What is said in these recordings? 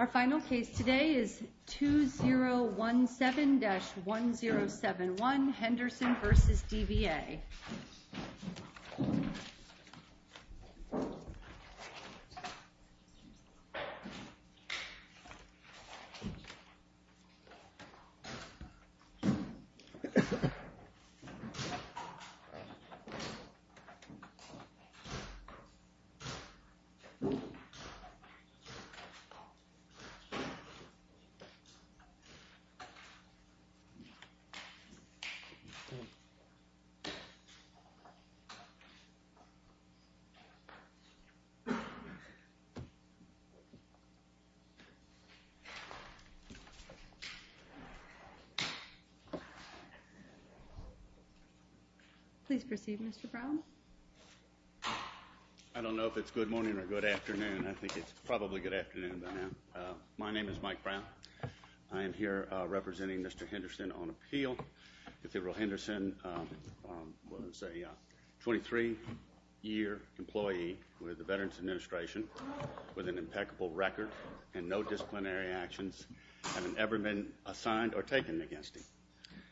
Our final case today is 2017-1071 Henderson v. DVA. Please proceed, Mr. Brown. I don't know if it's good morning or good afternoon. I think it's probably good afternoon by now. My name is Mike Brown. I am here representing Mr. Henderson on appeal. Cathedral Henderson was a 23-year employee with the Veterans Administration with an impeccable record and no disciplinary actions have ever been assigned or taken against him.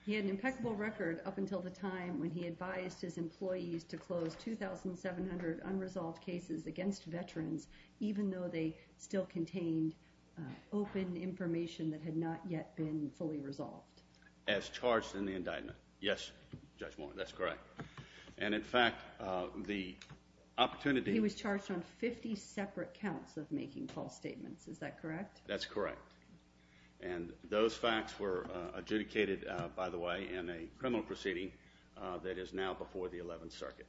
He had an impeccable record up until the time when he advised his employees to close 2,700 registered unresolved cases against veterans, even though they still contained open information that had not yet been fully resolved. As charged in the indictment. Yes, Judge Moore, that's correct. And in fact, the opportunity... He was charged on 50 separate counts of making false statements. Is that correct? That's correct. And those facts were adjudicated, by the way, in a criminal proceeding that is now before the 11th Circuit.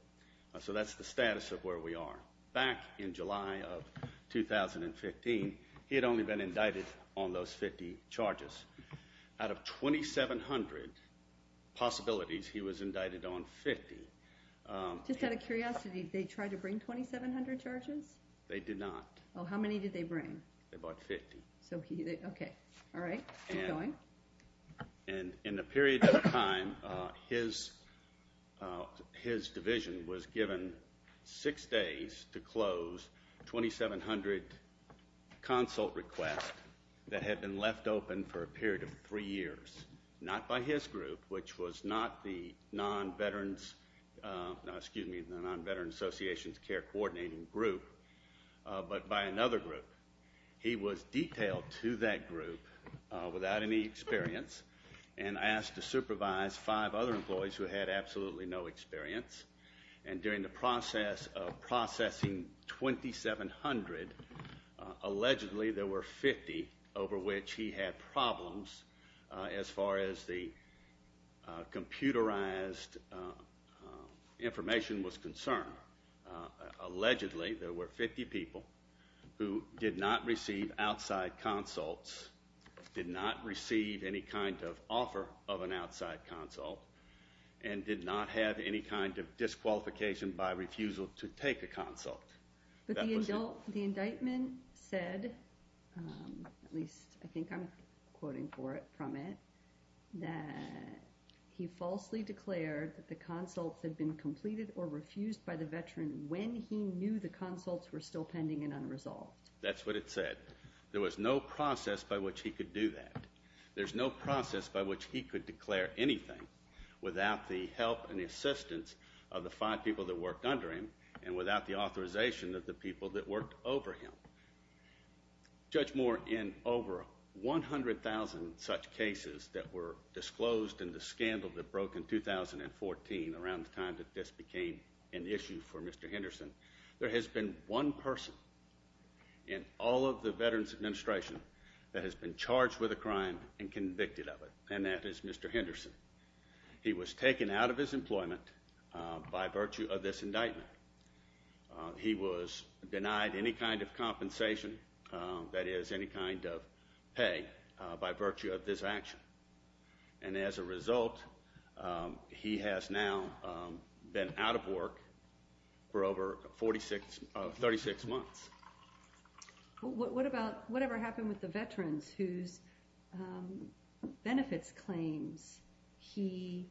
So that's the status of where we are. Back in July of 2015, he had only been indicted on those 50 charges. Out of 2,700 possibilities, he was indicted on 50. Just out of curiosity, did they try to bring 2,700 charges? They did not. How many did they bring? They brought 50. Okay. All right. Keep going. And in the period of time, his division was given six days to close 2,700 consult requests that had been left open for a period of three years. Not by his group, which was not the non-veteran's, excuse me, the non-veteran's associations care coordinating group, but by another group. He was detailed to that group without any experience and asked to supervise five other employees who had absolutely no experience. And during the process of processing 2,700, allegedly there were 50 over which he had problems as far as the computerized information was concerned. Allegedly, there were 50 people who did not receive outside consults, did not receive any kind of offer of an outside consult, and did not have any kind of disqualification by refusal to take a consult. The indictment said, at least I think I'm quoting from it, that he falsely declared that the consults had been completed or refused by the veteran when he knew the consults were still pending and unresolved. That's what it said. There was no process by which he could do that. There's no process by which he could declare anything without the help and assistance of the five people that worked under him and without the authorization of the people that worked over him. Judge Moore, in over 100,000 such cases that were disclosed in the scandal that broke in 2014, around the time that this became an issue for Mr. Henderson, there has been one person in all of the Veterans Administration that has been charged with a crime and convicted of it. And that is Mr. Henderson. He was taken out of his employment by virtue of this indictment. He was denied any kind of compensation, that is any kind of pay, by virtue of this action. And as a result, he has now been out of work for over 36 months. What about whatever happened with the veterans whose benefits claims he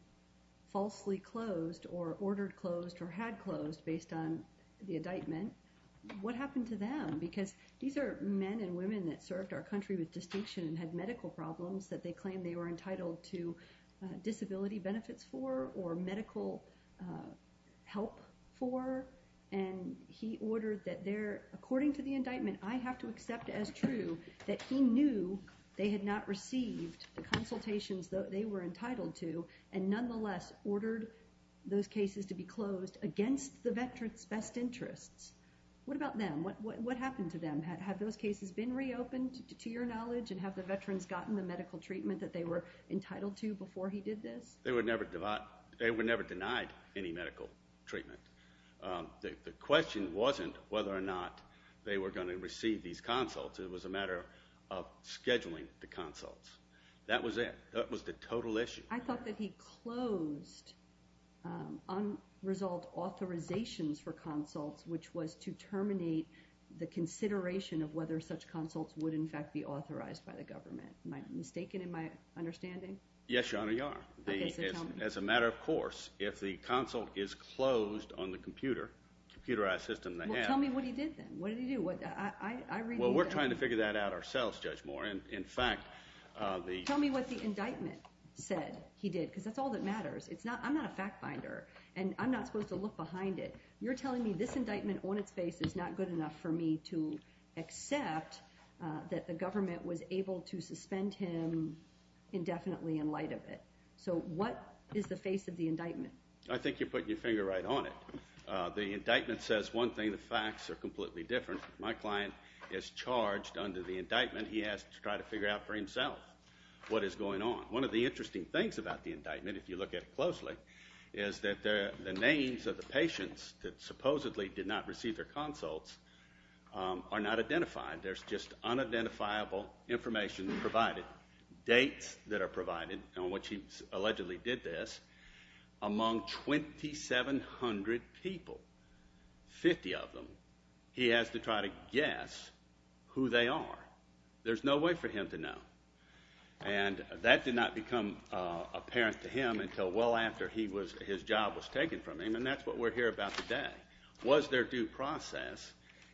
falsely closed or ordered closed or had closed based on the indictment? What happened to them? Because these are men and women that served our country with distinction and had medical problems that they claim they were entitled to disability benefits for or medical help for, and he ordered that they're, according to the indictment, I have to accept as true that he knew they had not received the consultations that they were entitled to and nonetheless ordered those cases to be closed against the veterans' best interests. What about them? What happened to them? Have those cases been reopened, to your knowledge, and have the veterans gotten the medical treatment that they were entitled to before he did this? They were never denied any medical treatment. The question wasn't whether or not they were going to receive these consults. It was a matter of scheduling the consults. That was it. That was the total issue. I thought that he closed unresolved authorizations for consults, which was to terminate the consideration of whether such consults would, in fact, be authorized by the government. Am I mistaken in my understanding? Yes, Your Honor, you are. As a matter of course, if the consult is closed on the computer, computerized system they have- Well, tell me what he did then. What did he do? I read- Well, we're trying to figure that out ourselves, Judge Moore. In fact, the- He did. He did. Because that's all that matters. I'm not a fact finder. I'm not supposed to look behind it. You're telling me this indictment on its face is not good enough for me to accept that the government was able to suspend him indefinitely in light of it. So what is the face of the indictment? I think you're putting your finger right on it. The indictment says one thing, the facts are completely different. My client is charged under the indictment, he has to try to figure out for himself what is going on. One of the interesting things about the indictment, if you look at it closely, is that the names of the patients that supposedly did not receive their consults are not identified. There's just unidentifiable information provided, dates that are provided on which he allegedly did this, among 2,700 people, 50 of them, he has to try to guess who they are. There's no way for him to know. And that did not become apparent to him until well after his job was taken from him, and that's what we're here about today. Was there due process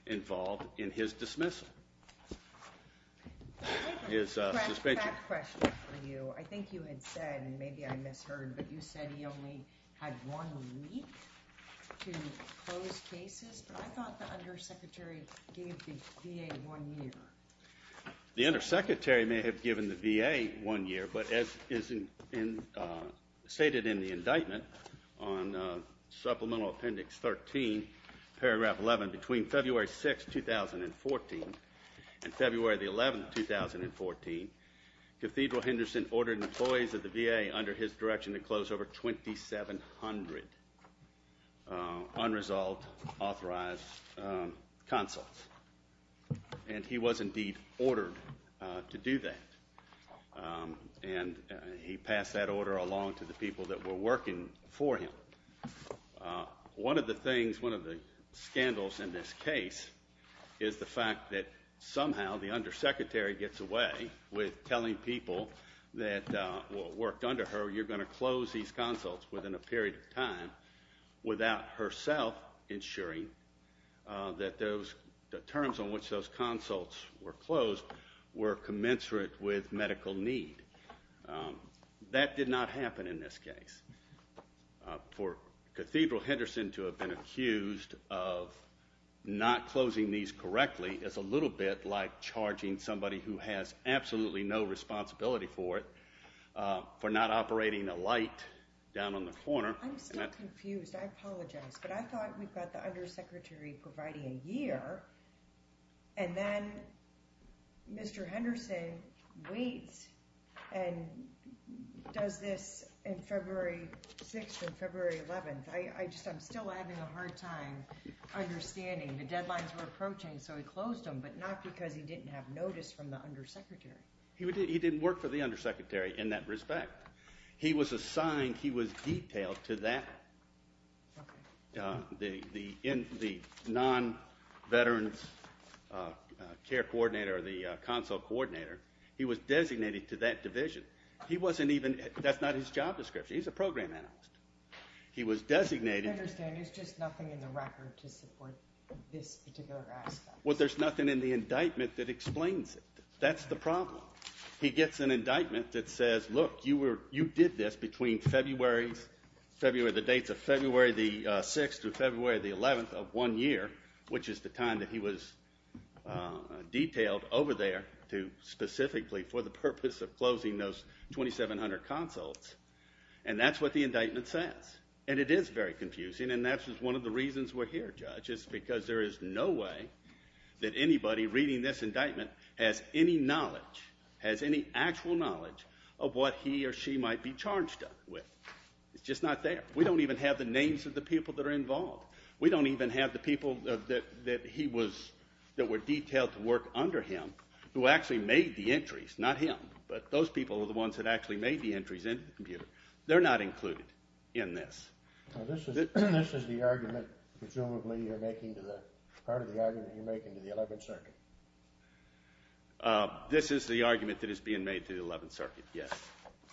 involved in his dismissal? I have a fact question for you. I think you had said, and maybe I misheard, but you said he only had one week to close cases, but I thought the undersecretary gave the VA one year. The undersecretary may have given the VA one year, but as stated in the indictment on Supplemental Appendix 13, paragraph 11, between February 6, 2014 and February 11, 2014, Cathedral Henderson ordered employees of the VA under his direction to close over 2,700 unresolved authorized consults. And he was indeed ordered to do that, and he passed that order along to the people that were working for him. One of the things, one of the scandals in this case is the fact that somehow the undersecretary gets away with telling people that worked under her, you're going to close these consults within a period of time, without herself ensuring that the terms on which those consults were closed were commensurate with medical need. That did not happen in this case. For Cathedral Henderson to have been accused of not closing these correctly is a little bit like charging somebody who has absolutely no responsibility for it for not operating a light down on the corner. I'm still confused. I apologize. But I thought we've got the undersecretary providing a year, and then Mr. Henderson waits and does this on February 6th and February 11th. I'm still having a hard time understanding the deadlines we're approaching, so he closed them, but not because he didn't have notice from the undersecretary. He didn't work for the undersecretary in that respect. He was assigned, he was detailed to that, the non-veterans care coordinator or the consult coordinator. He was designated to that division. He wasn't even, that's not his job description, he's a program analyst. He was designated. I understand. There's just nothing in the record to support this particular aspect. Well, there's nothing in the indictment that explains it. That's the problem. He gets an indictment that says, look, you did this between February, the dates of February the 6th through February the 11th of one year, which is the time that he was detailed over there to specifically for the purpose of closing those 2,700 consults. And that's what the indictment says. And it is very confusing, and that's just one of the reasons we're here, Judge, is because there is no way that anybody reading this indictment has any knowledge, has any actual knowledge of what he or she might be charged with. It's just not there. We don't even have the names of the people that are involved. We don't even have the people that he was, that were detailed to work under him, who actually made the entries. Not him, but those people are the ones that actually made the entries into the computer. They're not included in this. This is the argument, presumably, you're making, part of the argument you're making to the Eleventh Circuit? This is the argument that is being made to the Eleventh Circuit, yes.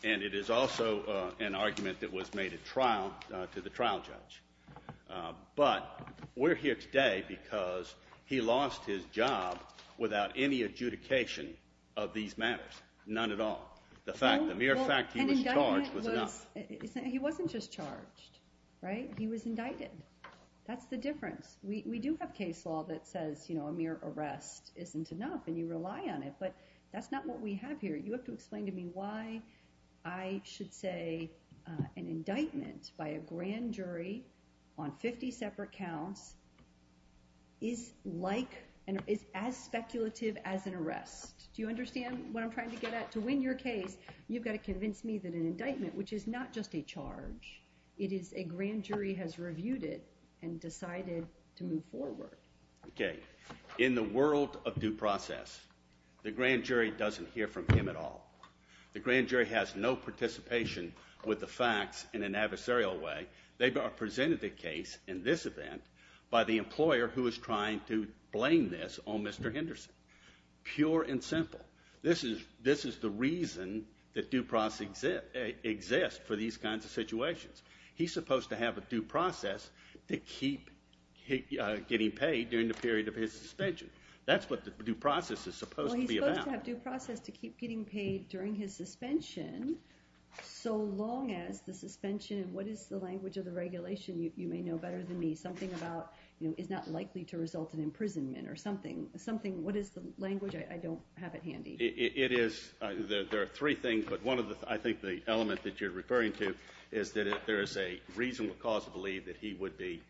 And it is also an argument that was made at trial to the trial judge. But we're here today because he lost his job without any adjudication of these matters. None at all. The mere fact he was charged was enough. He wasn't just charged, right? He was indicted. That's the difference. We do have case law that says a mere arrest isn't enough and you rely on it, but that's not what we have here. You have to explain to me why I should say an indictment by a grand jury on 50 separate counts is like, is as speculative as an arrest. Do you understand what I'm trying to get at? To win your case, you've got to convince me that an indictment, which is not just a charge, it is a grand jury has reviewed it and decided to move forward. Okay. In the world of due process, the grand jury doesn't hear from him at all. The grand jury has no participation with the facts in an adversarial way. They presented the case in this event by the employer who is trying to blame this on Mr. Henderson. Pure and simple. This is the reason that due process exists for these kinds of situations. He's supposed to have a due process to keep getting paid during the period of his suspension. That's what the due process is supposed to be about. Well, he's supposed to have due process to keep getting paid during his suspension so long as the suspension, what is the language of the regulation? You may know better than me. Something about, is not likely to result in imprisonment or something. What is the language? I don't have it handy. It is. There are three things, but one of the, I think the element that you're referring to is that there is a reasonable cause to believe that he would be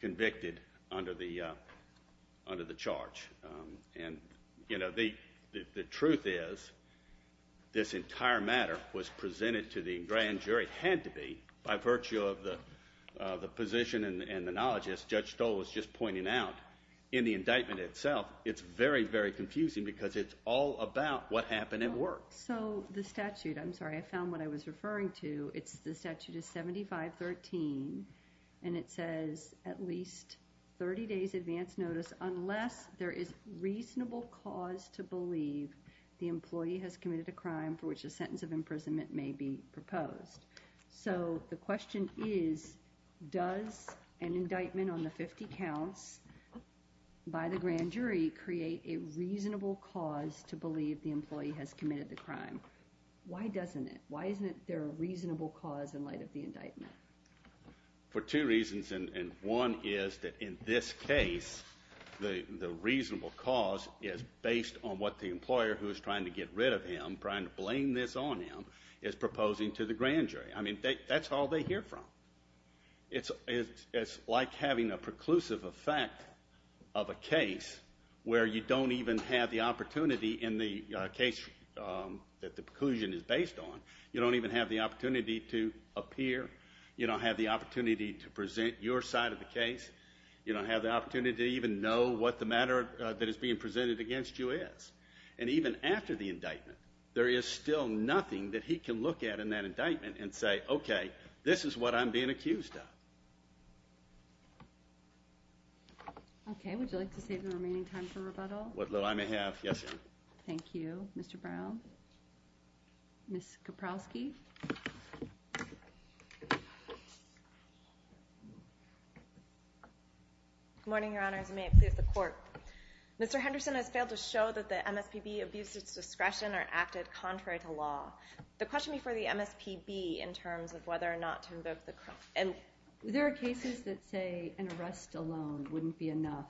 convicted under the charge. The truth is, this entire matter was presented to the grand jury, had to be, by virtue of the position and the knowledge, as Judge Stoll was just pointing out, in the indictment itself. It's very, very confusing because it's all about what happened at work. So the statute, I'm sorry, I found what I was referring to. It's the statute of 7513, and it says at least 30 days advance notice unless there is reasonable cause to believe the employee has committed a crime for which a sentence of imprisonment may be proposed. So the question is, does an indictment on the 50 counts by the grand jury create a reasonable cause to believe the employee has committed the crime? Why doesn't it? Why isn't there a reasonable cause in light of the indictment? For two reasons, and one is that in this case, the reasonable cause is based on what the employer who is trying to get rid of him, trying to blame this on him, is proposing to the grand jury. I mean, that's all they hear from. It's like having a preclusive effect of a case where you don't even have the opportunity in the case that the preclusion is based on, you don't even have the opportunity to appear, you don't have the opportunity to present your side of the case, you don't have the opportunity to even know what the matter that is being presented against you is. And even after the indictment, there is still nothing that he can look at in that indictment and say, okay, this is what I'm being accused of. Okay, would you like to save the remaining time for rebuttal? What little time I have, yes, ma'am. Thank you. Mr. Brown? Ms. Kaprowski? Good morning, Your Honors, and may it please the Court. Mr. Henderson has failed to show that the MSPB abuses discretion or acted contrary to law. The question before the MSPB in terms of whether or not to invoke the criminal... There are cases that say an arrest alone wouldn't be enough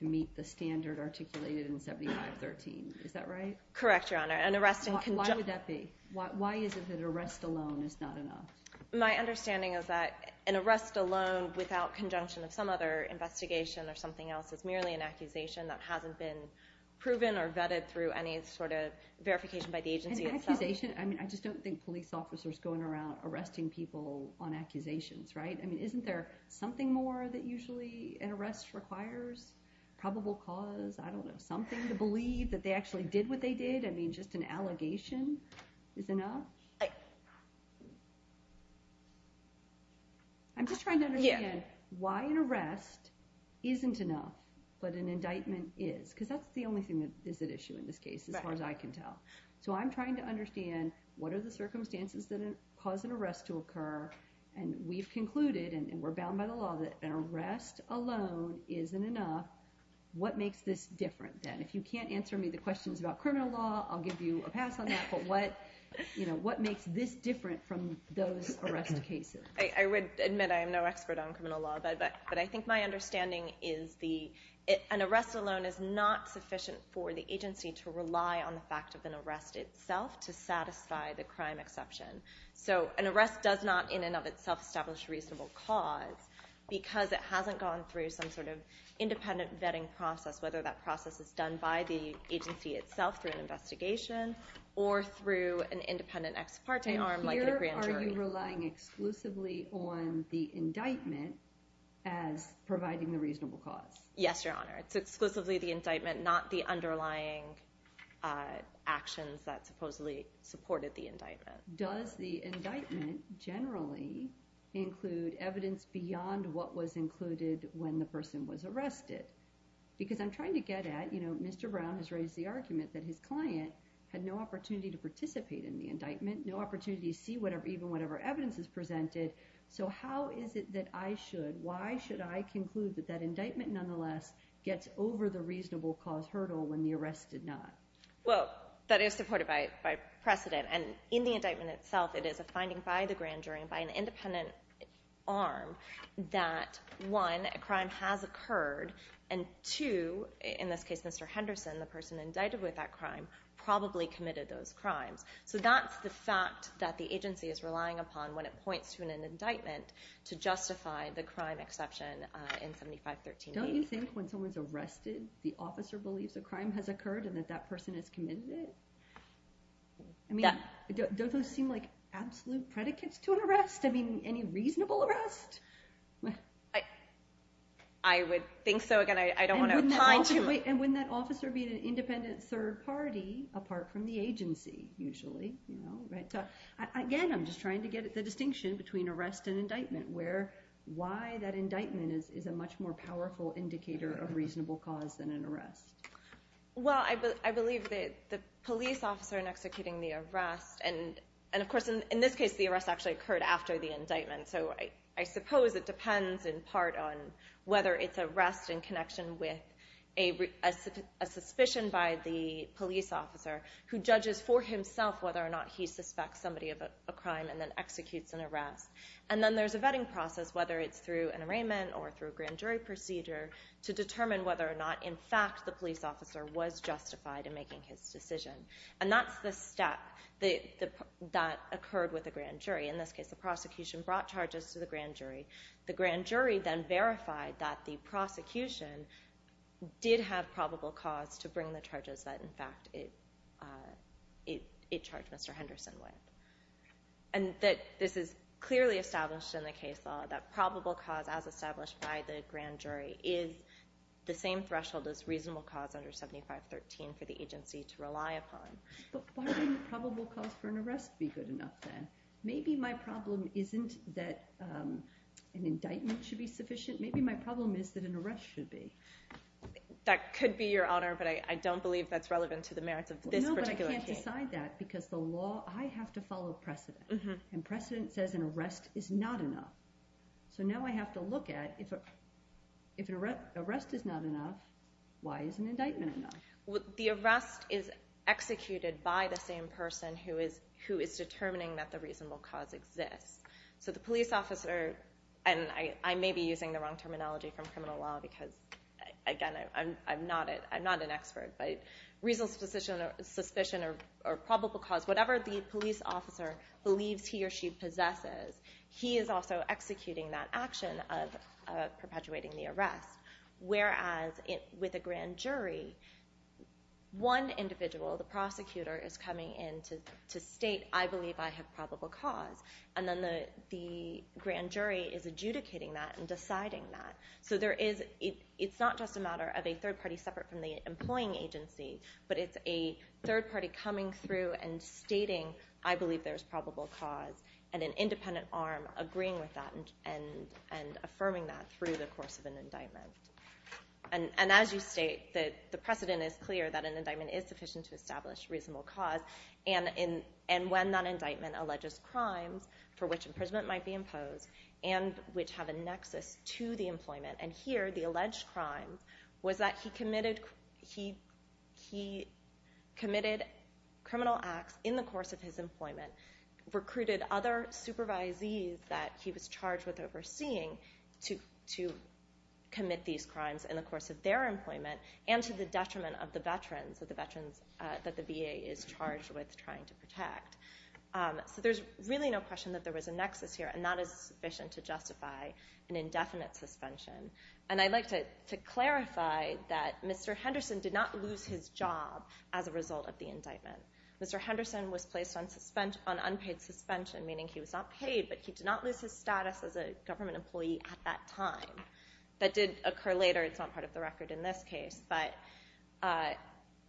to meet the standard articulated in 7513. Is that right? Correct, Your Honor. An arrest in conjunction... Why would that be? Why is it that an arrest alone is not enough? My understanding is that an arrest alone without conjunction of some other investigation or an accusation that hasn't been proven or vetted through any sort of verification by the agency itself... An accusation? I mean, I just don't think police officers going around arresting people on accusations, right? I mean, isn't there something more that usually an arrest requires? Probable cause? I don't know, something to believe that they actually did what they did? I mean, just an allegation is enough? I'm just trying to understand why an arrest isn't enough, but an indictment is. Because that's the only thing that is at issue in this case, as far as I can tell. So I'm trying to understand what are the circumstances that cause an arrest to occur, and we've concluded, and we're bound by the law, that an arrest alone isn't enough. What makes this different then? If you can't answer me the questions about criminal law, I'll give you a pass on that. But what makes this different from those arrest cases? I would admit I am no expert on criminal law, but I think my understanding is an arrest alone is not sufficient for the agency to rely on the fact of an arrest itself to satisfy the crime exception. So an arrest does not, in and of itself, establish a reasonable cause, because it hasn't gone through some sort of independent vetting process, whether that process is done by the agency itself through an investigation, or through an independent ex parte arm, like a grand jury. And here are you relying exclusively on the indictment as providing the reasonable cause? Yes, Your Honor. It's exclusively the indictment, not the underlying actions that supposedly supported the indictment. Does the indictment generally include evidence beyond what was included when the person was arrested? Because I'm trying to get at, you know, Mr. Brown has raised the argument that his client had no opportunity to participate in the indictment, no opportunity to see even whatever evidence is presented. So how is it that I should, why should I conclude that that indictment, nonetheless, gets over the reasonable cause hurdle when the arrest did not? Well, that is supported by precedent, and in the indictment itself, it is a finding by the grand jury, by an independent arm, that one, a crime has occurred, and two, in this case, Mr. Henderson, the person indicted with that crime, probably committed those crimes. So that's the fact that the agency is relying upon when it points to an indictment to justify the crime exception in 7513-8. Don't you think when someone's arrested, the officer believes a crime has occurred and that that person has committed it? I mean, don't those seem like absolute predicates to an arrest? I mean, any reasonable arrest? I would think so. Again, I don't want to opine to it. And wouldn't that officer be an independent third party, apart from the agency, usually? You know? So again, I'm just trying to get at the distinction between arrest and indictment, where why that indictment is a much more powerful indicator of reasonable cause than an arrest. Well, I believe that the police officer in executing the arrest, and of course, in this case, the arrest actually occurred after the indictment, so I suppose it depends in part on whether it's arrest in connection with a suspicion by the police officer, who judges for himself whether or not he suspects somebody of a crime and then executes an arrest. And then there's a vetting process, whether it's through an arraignment or through a grand jury procedure, to determine whether or not, in fact, the police officer was justified in making his decision. And that's the step that occurred with the grand jury. In this case, the prosecution brought charges to the grand jury. The grand jury then verified that the prosecution did have probable cause to bring the charges that, in fact, it charged Mr. Henderson with. And that this is clearly established in the case law, that probable cause, as established by the grand jury, is the same threshold as reasonable cause under 7513 for the agency to rely upon. But why wouldn't probable cause for an arrest be good enough, then? Maybe my problem isn't that an indictment should be sufficient. Maybe my problem is that an arrest should be. That could be, Your Honor, but I don't believe that's relevant to the merits of this particular case. No, but I can't decide that, because the law, I have to follow precedent. And precedent says an arrest is not enough. So now I have to look at, if an arrest is not enough, why isn't an indictment enough? The arrest is executed by the same person who is determining that the reasonable cause exists. So the police officer, and I may be using the wrong terminology from criminal law, because, again, I'm not an expert, but reasonable suspicion or probable cause, whatever the police officer believes he or she possesses, he is also executing that action of perpetuating the arrest. Whereas, with a grand jury, one individual, the prosecutor, is coming in to state, I believe I have probable cause. And then the grand jury is adjudicating that and deciding that. So it's not just a matter of a third party separate from the employing agency, but it's a third party coming through and stating, I believe there's probable cause, and an independent arm agreeing with that and affirming that through the course of an indictment. And as you state, the precedent is clear that an indictment is sufficient to establish reasonable cause. And when that indictment alleges crimes for which imprisonment might be imposed and which have a nexus to the employment. And here, the alleged crime was that he committed criminal acts in the course of his employment, recruited other supervisees that he was charged with overseeing to commit these crimes in the course of their employment, and to the detriment of the veterans, of the veterans So there's really no question that there was a nexus here, and that is sufficient to justify an indefinite suspension. And I'd like to clarify that Mr. Henderson did not lose his job as a result of the indictment. Mr. Henderson was placed on unpaid suspension, meaning he was not paid, but he did not lose his status as a government employee at that time. That did occur later. It's not part of the record in this case, but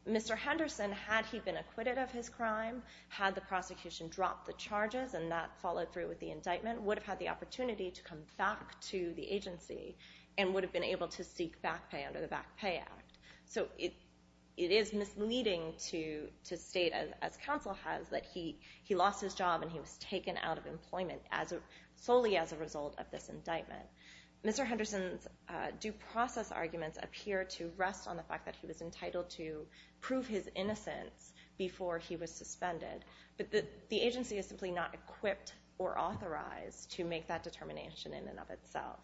Mr. Henderson, had he been acquitted of his crime, had the prosecution dropped the charges and that followed through with the indictment, would have had the opportunity to come back to the agency and would have been able to seek back pay under the Back Pay Act. So it is misleading to state, as counsel has, that he lost his job and he was taken out of employment solely as a result of this indictment. Mr. Henderson's due process arguments appear to rest on the fact that he was entitled to pay before he was suspended, but the agency is simply not equipped or authorized to make that determination in and of itself,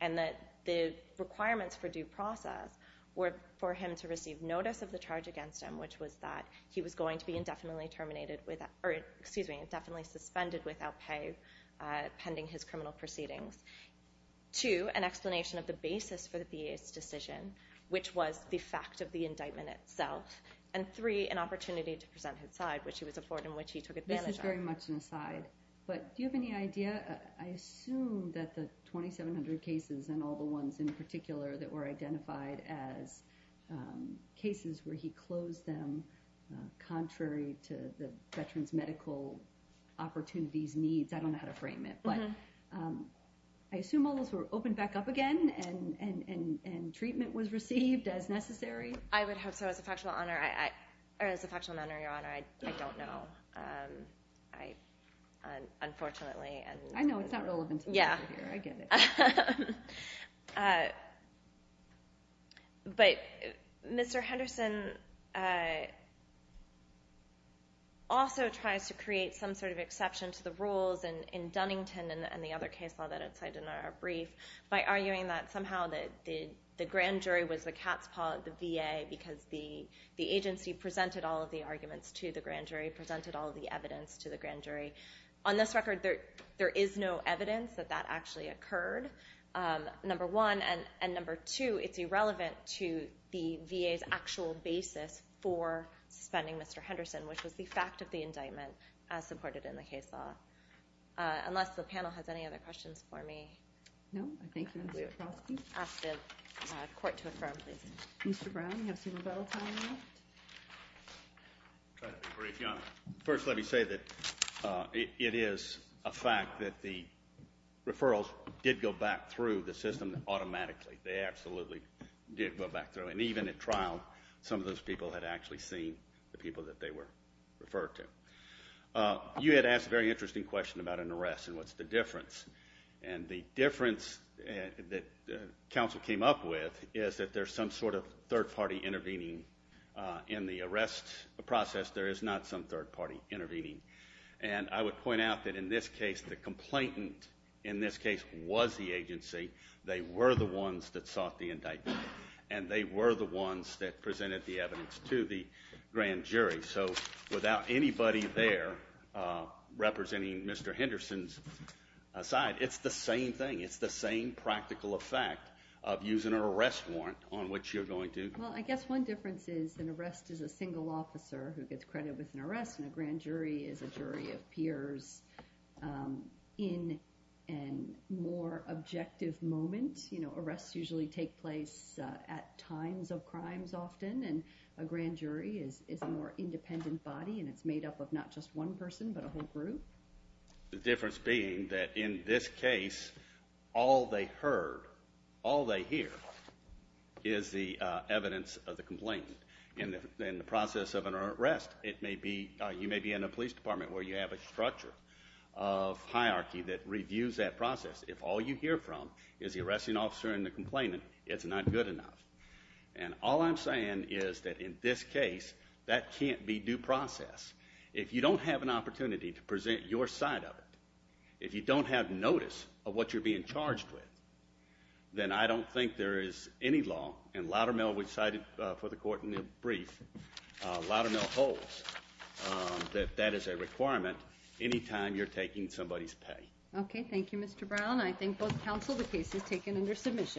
and that the requirements for due process were for him to receive notice of the charge against him, which was that he was going to be indefinitely suspended without pay pending his criminal proceedings, two, an explanation of the basis for the BA's decision, which was the fact of the indictment itself, and three, an opportunity to present his side, which he was afforded and which he took advantage of. This is very much an aside, but do you have any idea, I assume that the 2,700 cases and all the ones in particular that were identified as cases where he closed them contrary to the veteran's medical opportunities, needs, I don't know how to frame it, but I assume all those were opened back up again and treatment was received as necessary? I would hope so. As a factual matter, Your Honor, I don't know, unfortunately. I know, it's not relevant to the interview, I get it. But Mr. Henderson also tries to create some sort of exception to the rules in Dunnington and the other case law that I cited in our brief by arguing that somehow the grand jury was the cat's paw at the VA because the agency presented all of the arguments to the grand jury, presented all of the evidence to the grand jury. On this record, there is no evidence that that actually occurred, number one. And number two, it's irrelevant to the VA's actual basis for suspending Mr. Henderson, which was the fact of the indictment as supported in the case law. Unless the panel has any other questions for me. No, I think we're clear. I'll ask the court to affirm, please. Mr. Brown, you have some rebuttal time left. First, let me say that it is a fact that the referrals did go back through the system automatically. They absolutely did go back through. And even at trial, some of those people had actually seen the people that they were referred to. You had asked a very interesting question about an arrest and what's the difference. And the difference that counsel came up with is that there's some sort of third party intervening in the arrest process. There is not some third party intervening. And I would point out that in this case, the complainant in this case was the agency. They were the ones that sought the indictment. And they were the ones that presented the evidence to the grand jury. So without anybody there representing Mr. Henderson's side, it's the same thing. It's the same practical effect of using an arrest warrant on which you're going to. Well, I guess one difference is an arrest is a single officer who gets credited with an arrest. And a grand jury is a jury of peers in a more objective moment. Arrests usually take place at times of crimes often. And a grand jury is a more independent body. And it's made up of not just one person, but a whole group. The difference being that in this case, all they heard, all they hear is the evidence of the complainant. In the process of an arrest, you may be in a police department where you have a structure of hierarchy that reviews that process. If all you hear from is the arresting officer and the complainant, it's not good enough. And all I'm saying is that in this case, that can't be due process. If you don't have an opportunity to present your side of it, if you don't have notice of what you're being charged with, then I don't think there is any law. And Loudermill, we cited for the court in the brief, Loudermill holds that that is a requirement any time you're taking somebody's pay. Okay, thank you Mr. Brown. I thank both counsel. The case is taken under submission.